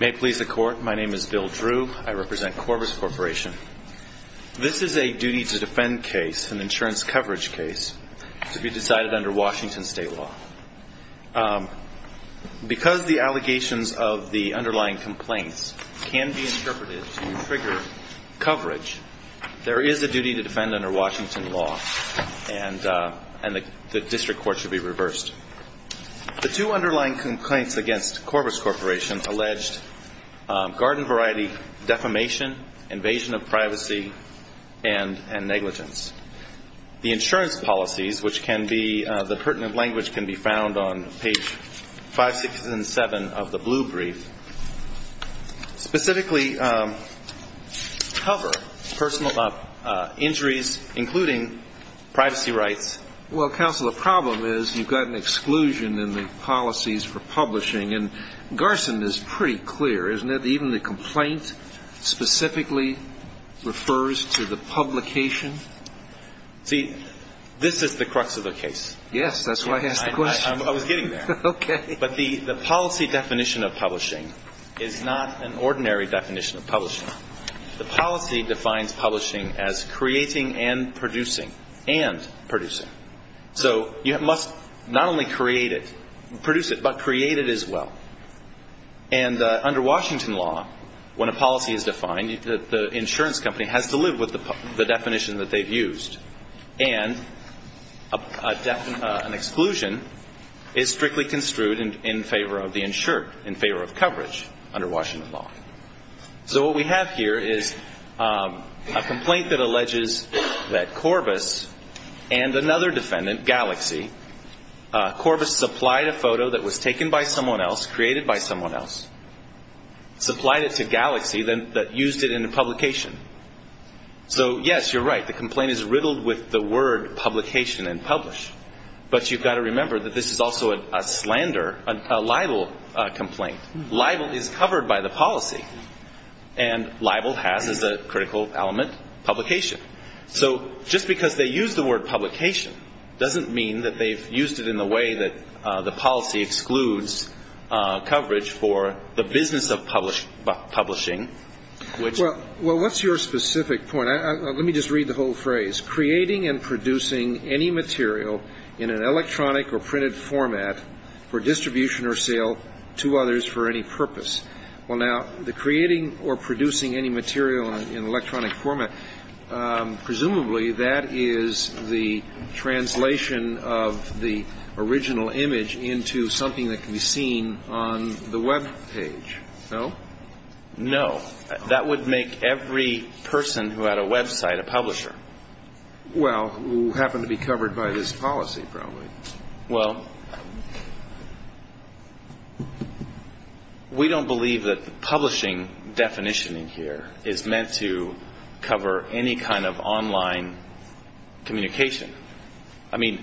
May it please the Court, my name is Bill Drew. I represent Corbis Corporation. This is a duty to defend case, an insurance coverage case, to be decided under Washington State law. Because the allegations of the underlying complaints can be interpreted to trigger coverage, there is a duty to defend under Washington law, and the District Court should be reversed. The two underlying complaints against Corbis Corporation alleged garden variety defamation, invasion of privacy, and negligence. The insurance policies, which can be, the pertinent language can be found on page 567 of the blue brief, specifically cover personal injuries, including privacy rights. Well, counsel, the problem is you've got an exclusion in the policies for publishing, and Garson is pretty clear, isn't it? Even the complaint specifically refers to the publication. See, this is the crux of the case. Yes, that's why I asked the question. I was getting there. Okay. But the policy definition of publishing is not an ordinary definition of publishing. The policy defines publishing as creating and producing, and producing. So you must not only create it, produce it, but create it as well. And under Washington law, when a policy is defined, the insurance company has to live with the definition that they've used. And an exclusion is strictly construed in favor of the insured, in favor of coverage under Washington law. So what we have here is a complaint that alleges that Corbis and another defendant, Galaxy, Corbis supplied a photo that was taken by someone else, created by someone else, supplied it to Galaxy, then used it in a publication. So yes, you're right, the complaint is riddled with the word publication and publish. But you've got to cover the policy. And libel has as a critical element, publication. So just because they use the word publication doesn't mean that they've used it in a way that the policy excludes coverage for the business of publishing. Well, what's your specific point? Let me just read the whole phrase. Creating and producing any material in an electronic or printed format for distribution or sale to others for any purpose. Well, now, the creating or producing any material in electronic format, presumably that is the translation of the original image into something that can be seen on the web page, no? No. That would make every person who had a copy of the original image a copy of the original image. So we don't believe that the publishing definition in here is meant to cover any kind of online communication. I mean,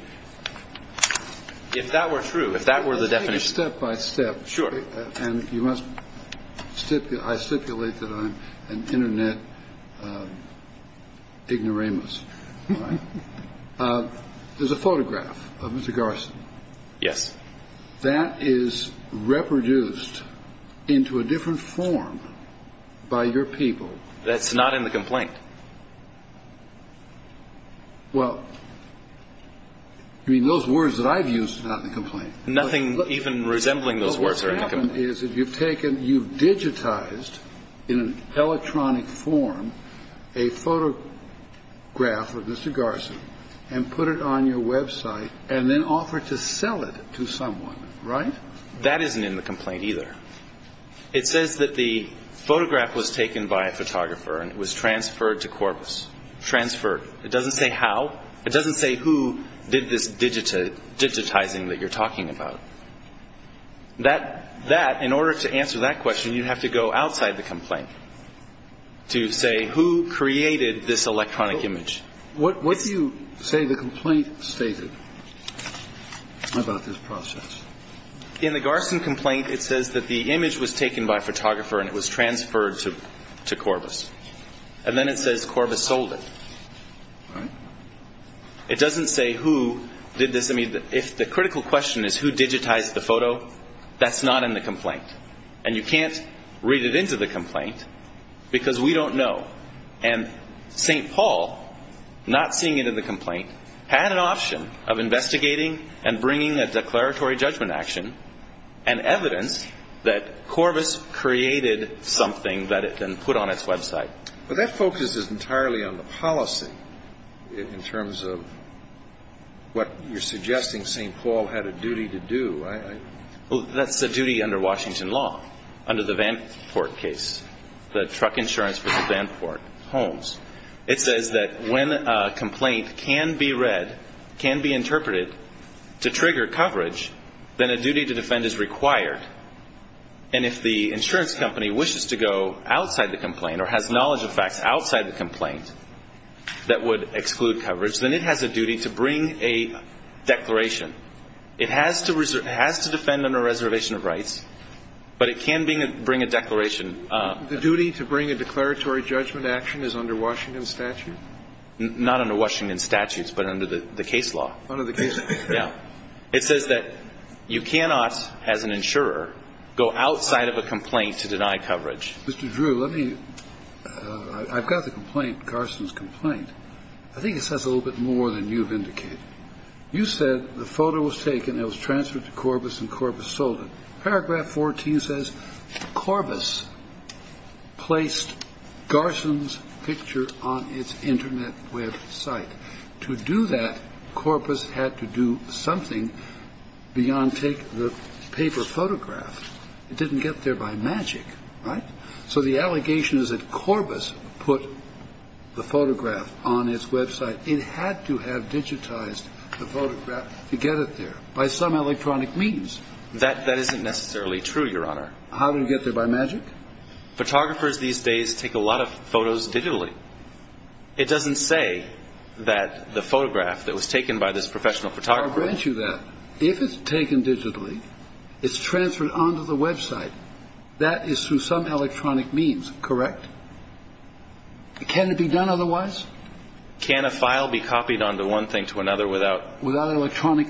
if that were true, if that were the definition. Let's take it step by step. Sure. And you must stipulate, I stipulate that I'm an internet ignoramus. All right. There's a photograph of Mr. Garson. Yes. That is reproduced into a different form by your people. That's not in the complaint. Well, I mean, those words that I've used are not in the complaint. Nothing even resembling those words are in the complaint. What's happened is that you've taken, you've digitized in an electronic form, a photograph of Mr. Garson and put it on your website and then offered to sell it to someone, right? That isn't in the complaint either. It says that the photograph was taken by a photographer and it was transferred to Corpus. Transferred. It doesn't say how. It doesn't say who did this digitizing that you're talking about. That that in order to answer that question, you have to go outside the complaint to say who created this electronic image. What would you say the complaint stated about this process? In the Garson complaint, it says that the image was taken by a photographer and it was transferred to Corpus. And then it says Corpus sold it. Right. It doesn't say who did this. I mean, if the critical question is who digitized the photo, that's not in the complaint. And you can't read it into the complaint because we don't know. And St. Paul, not seeing it in the complaint, had an option of investigating and bringing a declaratory judgment action and evidence that Corpus created something that it then put on in terms of what you're suggesting St. Paul had a duty to do. Well, that's the duty under Washington law, under the Vanport case, the truck insurance for the Vanport homes. It says that when a complaint can be read, can be interpreted to trigger coverage, then a duty to defend is required. And if the insurance company wishes to go outside the exclusion of coverage, then it has a duty to bring a declaration. It has to defend under reservation of rights, but it can bring a declaration. The duty to bring a declaratory judgment action is under Washington statute? Not under Washington statutes, but under the case law. Under the case law. Yeah. It says that you cannot, as an insurer, go outside of a complaint to deny I think it says a little bit more than you've indicated. You said the photo was taken and it was transferred to Corpus and Corpus sold it. Paragraph 14 says Corpus placed Garson's picture on its internet web site. To do that, Corpus had to do something beyond take the paper photograph. It didn't get there by magic, right? So the allegation is that Corpus put the photograph on its website. It had to have digitized the photograph to get it there by some electronic means. That that isn't necessarily true, Your Honor. How did it get there by magic? Photographers these days take a lot of photos digitally. It doesn't say that the photograph that was taken by this professional photographer. I'll grant you that. If it's taken digitally, it's transferred onto the website. That is through some electronic means. Correct. Can it be done otherwise? Can a file be copied onto one thing to another without without electronic?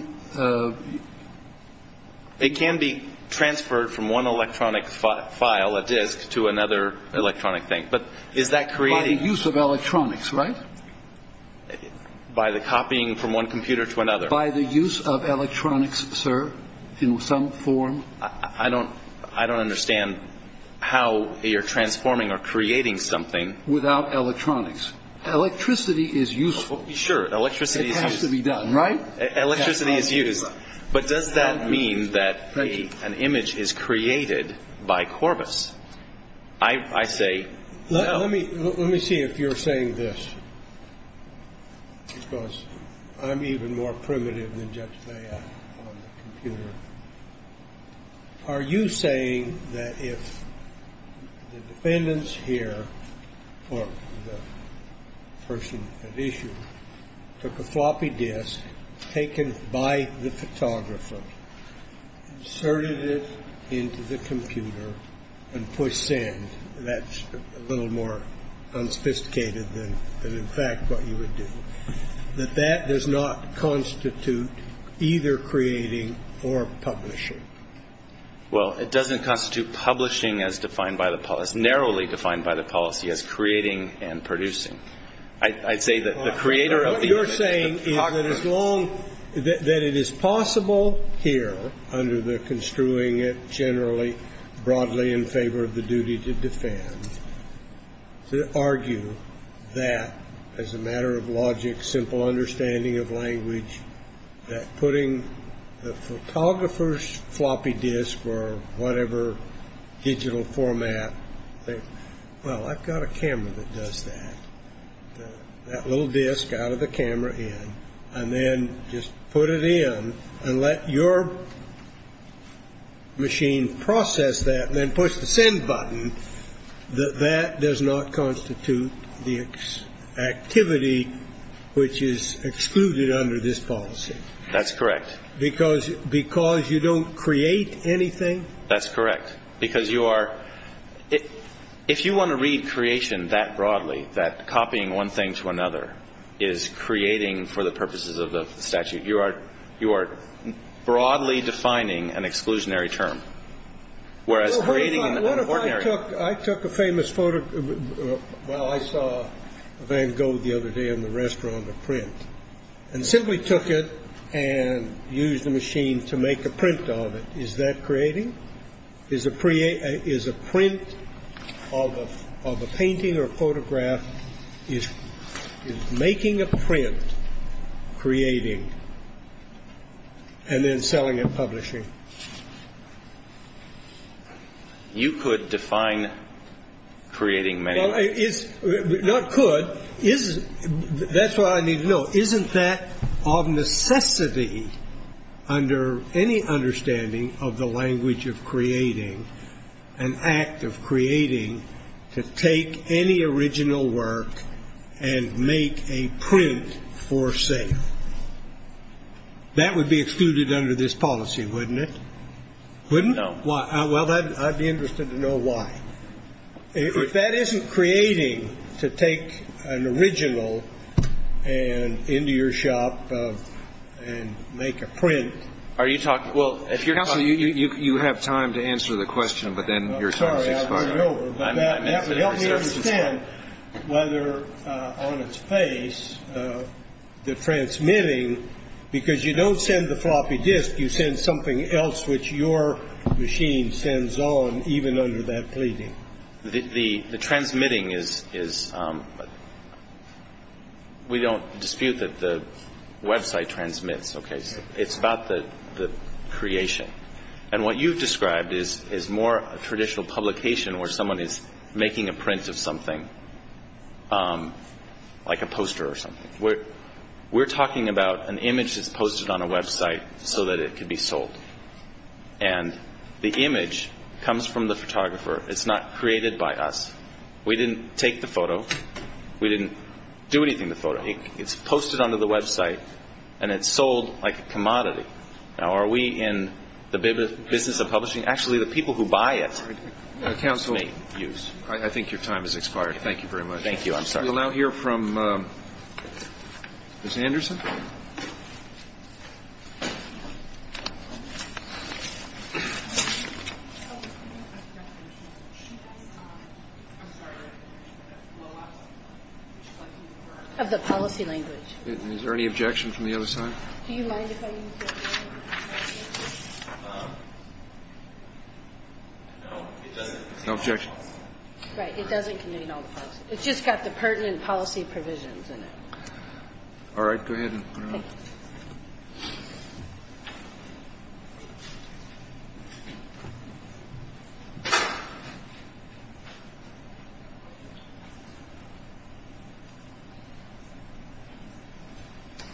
It can be transferred from one electronic file, a disk to another electronic thing. But is that creating use of electronics? Right. By the copying from one computer to another. By the use of electronics, sir, in some form. I don't I don't understand how you're transforming or creating something without electronics. Electricity is useful. Sure. Electricity has to be done, right? Electricity is used. But does that mean that an image is created by Corpus? I say. Well, let me let me see if you're saying this. Because I'm even more primitive than Judge Are you saying that if the defendants here or the person at issue took a floppy disk taken by the a little more unsophisticated than in fact what you would do, that that does not constitute either creating or publishing? Well, it doesn't constitute publishing as defined by the policy narrowly defined by the policy as creating and producing. I'd say that the creator of what you're saying is that as long that it is possible here under the construing it generally broadly in favor of the duty to defend to argue that as a matter of logic, simple understanding of language, that putting the photographer's floppy disk or whatever digital format. Well, I've got a camera that does that. That little disk out of the camera and then just put it in and let your machine process that and then push the send button, that that does not constitute the activity which is excluded under this policy. That's correct. Because you don't create anything? That's correct. Because you are If you want to read creation that broadly, that copying one thing to another is creating for the purposes of the statute. You are you are broadly defining an exclusionary term, whereas creating an ordinary. I took a famous photo. Well, I saw Van Gogh the other day in the restaurant of print and simply took it and used the machine to make a print of it. Is that creating? Is a is a print of of a painting or photograph is making a print creating and then selling and publishing? You could define creating many is not could is. That's what I need to know. Isn't that of necessity under any understanding of the language of creating an act of creating to take any original work and make a print for say? That would be excluded under this policy, wouldn't it? Wouldn't know why. Well, I'd be and make a print. Are you talking? Well, if you're not, you have time to answer the question, but then you're sorry. I'm sorry. I don't know about that. That would help me understand whether on its face the transmitting because you don't send the floppy disk. You send something else which your machine sends on even under that pleading. The the the transmitting is is. We don't dispute that the website transmits. OK, it's about the the creation and what you've described is is more traditional publication where someone is making a print of something like a poster or something where we're talking about an image is posted on a website so that it could be sold and the image comes from the photographer. It's not created by us. We didn't take the photo. We didn't do anything. The photo it's posted onto the website and it's sold like a commodity. Now, are we in the business of publishing? Actually, the people who buy it. Counsel, I think your time has expired. Thank you very much. Thank you. I'm sorry. I'll hear from Ms. Anderson. Of the policy language. Is there any objection from the other side? Do you mind if I. No objection. Right. It doesn't. It's just got the pertinent policy provisions in it. All right. Go ahead.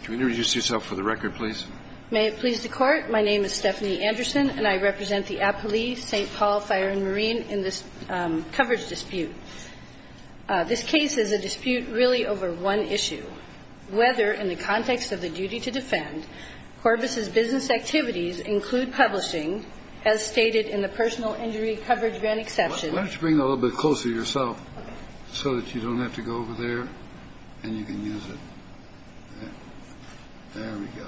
Can you introduce yourself for the record, please? May it please the Court. My name is Stephanie Anderson and I represent the police, St. Paul Fire and Marine in this coverage dispute. This case is a dispute really over one issue, whether in the context of the duty to defend Corbis's business activities include publishing, as stated in the personal injury coverage grant exception. Let's bring a little bit closer to yourself so that you don't have to go over there and you can use it. There we go.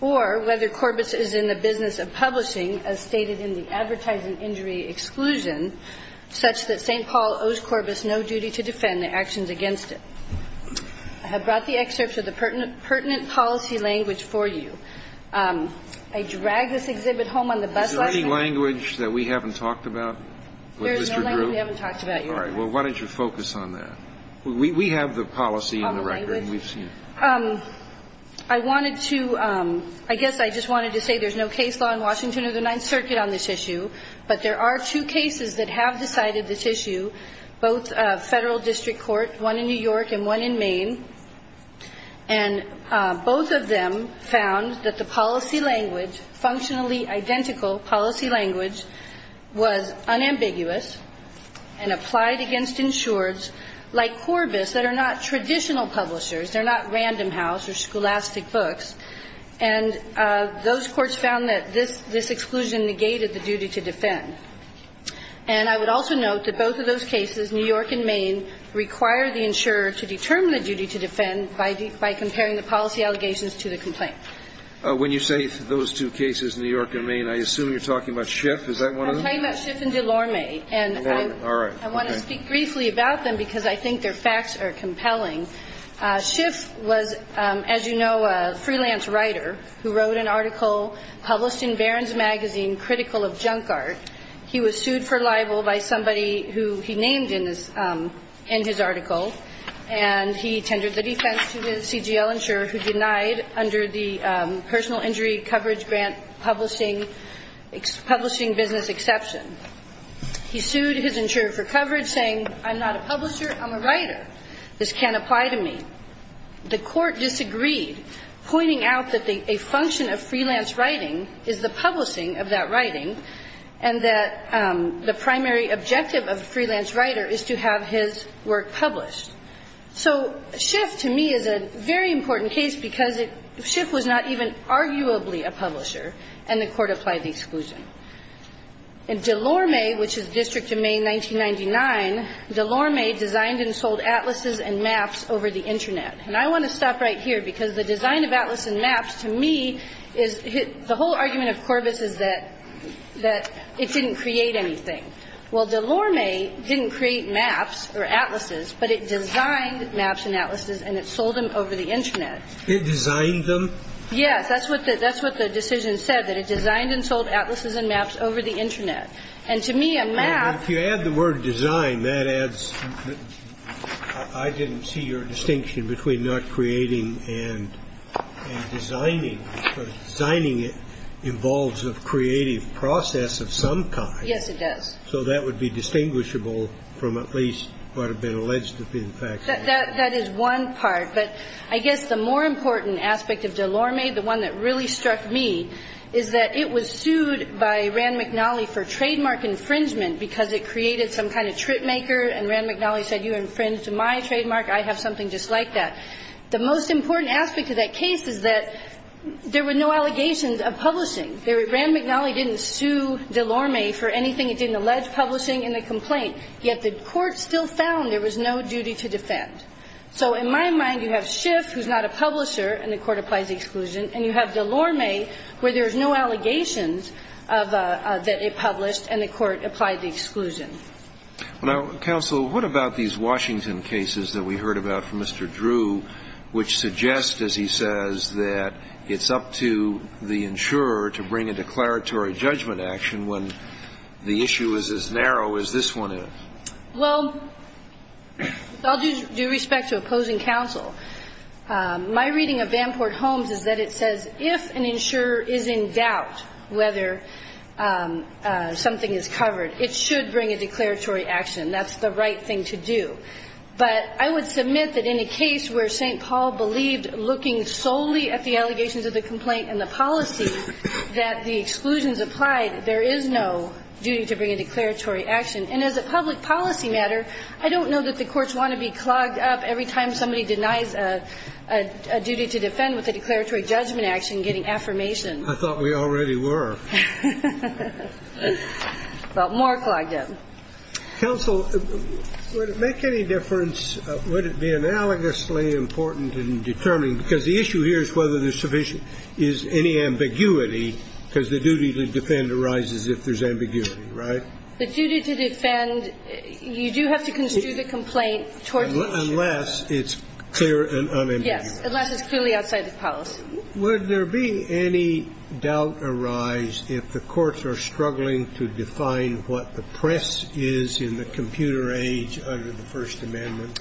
Or whether Corbis is in the business of publishing, as stated in the advertising injury exclusion such that St. Paul owes Corbis no duty to defend the actions against it. I have brought the excerpts of the pertinent policy language for you. I dragged this exhibit home on the bus last night. Is there any language that we haven't talked about? There is no language we haven't talked about, Your Honor. All right. Well, why don't you focus on that? We have the policy in the record. I wanted to – I guess I just wanted to say there's no case law in Washington or the Ninth Circuit on this issue, but there are two cases that have decided this issue, both Federal District Court, one in New York and one in Maine. And both of them found that the policy language, functionally identical policy language, was unambiguous and applied against insureds like Corbis that are not traditional publishers. They're not Random House or Scholastic Books. And those courts found that this exclusion negated the duty to defend. And I would also note that both of those cases, New York and Maine, require the insurer to determine the duty to defend by comparing the policy allegations to the complaint. When you say those two cases, New York and Maine, I assume you're talking about Schiff. Is that one of them? I'm talking about Schiff and DeLorme. And I want to speak briefly about them because I think their facts are compelling. Schiff was, as you know, a freelance writer who wrote an article published in Barron's magazine, Critical of Junk Art. He was sued for libel by somebody who he named in his article. And he tendered the defense to the CGL insurer who denied under the personal injury coverage grant publishing business exception. He sued his insurer for coverage, saying, I'm not a publisher, I'm a writer. This can't apply to me. The court disagreed, pointing out that a function of freelance writing is the publishing of that writing, and that the primary objective of a freelance writer is to have his work published. So Schiff, to me, is a very important case because Schiff was not even arguably a publisher, and the court applied the exclusion. In DeLorme, which is District of Maine 1999, DeLorme designed and sold atlases and maps over the Internet. And I want to stop right here because the design of atlas and maps, to me, is the whole argument of Corvus is that it didn't create anything. Well, DeLorme didn't create maps or atlases, but it designed maps and atlases and it sold them over the Internet. It designed them? Yes, that's what the decision said, that it designed and sold atlases and maps over the Internet. And to me, a map. If you add the word design, that adds. I didn't see your distinction between not creating and designing. Designing involves a creative process of some kind. Yes, it does. So that would be distinguishable from at least what had been alleged to be the fact. That is one part. But I guess the more important aspect of DeLorme, the one that really struck me, is that it was sued by Rand McNally for trademark infringement because it created some kind of tripmaker, and Rand McNally said, you infringed my trademark, I have something just like that. The most important aspect of that case is that there were no allegations of publishing. Rand McNally didn't sue DeLorme for anything. It didn't allege publishing in the complaint. Yet the court still found there was no duty to defend. So in my mind, you have Schiff, who's not a publisher, and the court applies the exclusion, and you have DeLorme, where there's no allegations that it published, and the court applied the exclusion. Now, counsel, what about these Washington cases that we heard about from Mr. Drew, which suggest, as he says, that it's up to the insurer to bring a declaratory judgment action when the issue is as narrow as this one is? Well, I'll do respect to opposing counsel. My reading of Vanport Holmes is that it says if an insurer is in doubt whether something is covered, it should bring a declaratory action. That's the right thing to do. But I would submit that in a case where St. Paul believed, looking solely at the allegations of the complaint and the policy, that the exclusions applied, there is no duty to bring a declaratory action. And as a public policy matter, I don't know that the courts want to be clogged up every time somebody denies a duty to defend with a declaratory judgment action getting affirmation. I thought we already were. Well, more clogged up. Counsel, would it make any difference, would it be analogously important in determining because the issue here is whether there's sufficient, is any ambiguity, because the duty to defend arises if there's ambiguity, right? The duty to defend, you do have to construe the complaint towards the insurer. Unless it's clear and unambiguous. Yes, unless it's clearly outside the policy. Would there be any doubt arise if the courts are struggling to define what the press is in the computer age under the First Amendment?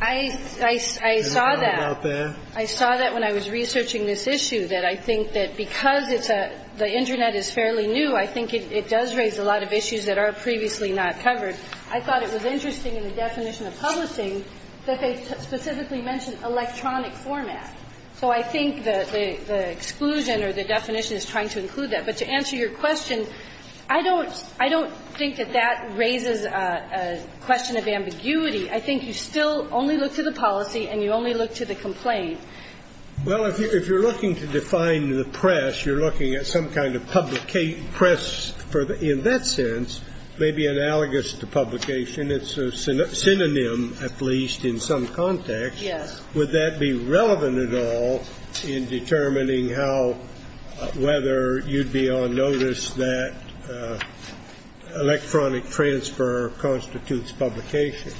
I saw that. Have you thought about that? I saw that when I was researching this issue, that I think that because it's a – the Internet is fairly new, I think it does raise a lot of issues that are previously not covered. I thought it was interesting in the definition of publishing that they specifically mentioned electronic format. So I think the exclusion or the definition is trying to include that. But to answer your question, I don't think that that raises a question of ambiguity. I think you still only look to the policy and you only look to the complaint. Well, if you're looking to define the press, you're looking at some kind of press for the – in that sense, maybe analogous to publication. It's a synonym, at least, in some context. Yes. Would that be relevant at all in determining how – whether you'd be on notice that electronic transfer constitutes publication?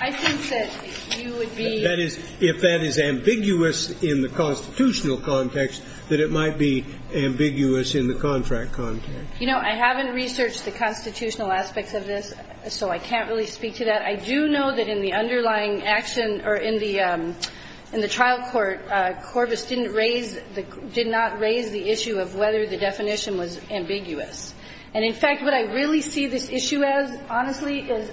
I think that you would be – That is, if that is ambiguous in the constitutional context, that it might be ambiguous in the contract context. You know, I haven't researched the constitutional aspects of this, so I can't really speak to that. I do know that in the underlying action or in the – in the trial court, Corvus didn't raise – did not raise the issue of whether the definition was ambiguous. And, in fact, what I really see this issue as, honestly, is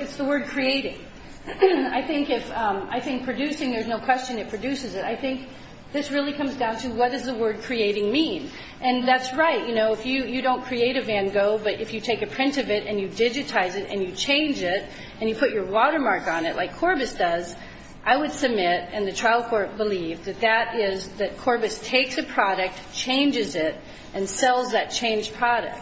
it's the word creating. I think if – I think producing, there's no question it produces it. I think this really comes down to what does the word creating mean. And that's right. You know, if you – you don't create a Van Gogh, but if you take a print of it and you digitize it and you change it and you put your watermark on it, like Corvus does, I would submit, and the trial court believed, that that is – that Corvus takes a product, changes it, and sells that changed product.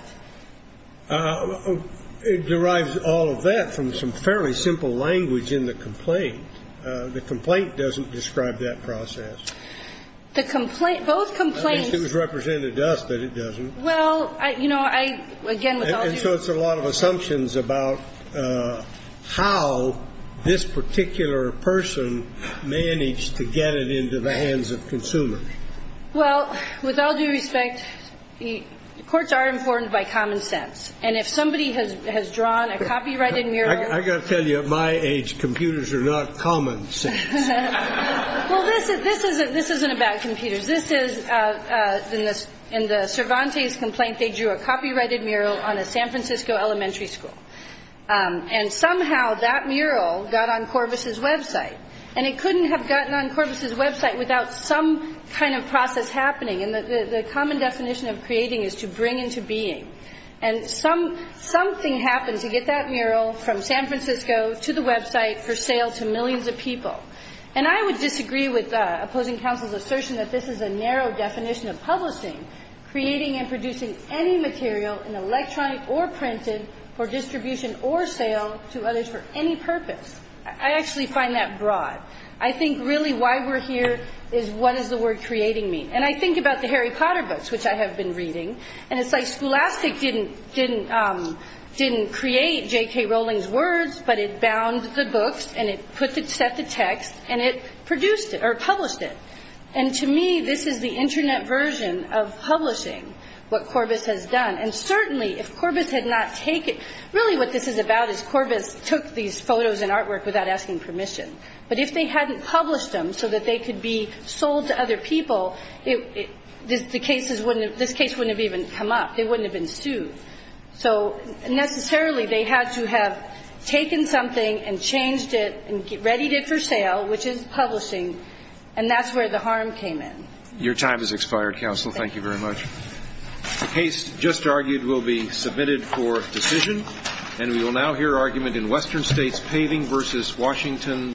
It derives all of that from some fairly simple language in the complaint. The complaint doesn't describe that process. The complaint – both complaints – I think it was represented to us that it doesn't. Well, you know, I – again, with all due respect – So it's a lot of assumptions about how this particular person managed to get it into the hands of consumers. Well, with all due respect, courts are informed by common sense. And if somebody has drawn a copyrighted mural – I've got to tell you, at my age, computers are not common sense. Well, this isn't about computers. This is – in the Cervantes complaint, they drew a copyrighted mural on a San Francisco elementary school. And somehow that mural got on Corvus's website. And it couldn't have gotten on Corvus's website without some kind of process happening. And the common definition of creating is to bring into being. And something happened to get that mural from San Francisco to the website for sale to millions of people. And I would disagree with opposing counsel's assertion that this is a narrow definition of publishing, creating and producing any material in electronic or printed for distribution or sale to others for any purpose. I actually find that broad. I think really why we're here is what does the word creating mean? And I think about the Harry Potter books, which I have been reading. And it's like Scholastic didn't – didn't – didn't create J.K. Rowling's words, but it bound the books and it set the text and it produced it or published it. And to me, this is the Internet version of publishing what Corvus has done. And certainly, if Corvus had not taken – really what this is about is Corvus took these photos and artwork without asking permission. But if they hadn't published them so that they could be sold to other people, the cases wouldn't have – this case wouldn't have even come up. It wouldn't have ensued. So necessarily, they had to have taken something and changed it and readied it for sale, which is publishing. And that's where the harm came in. Your time has expired, counsel. Thank you very much. The case just argued will be submitted for decision. And we will now hear argument in Western States Paving v. Washington.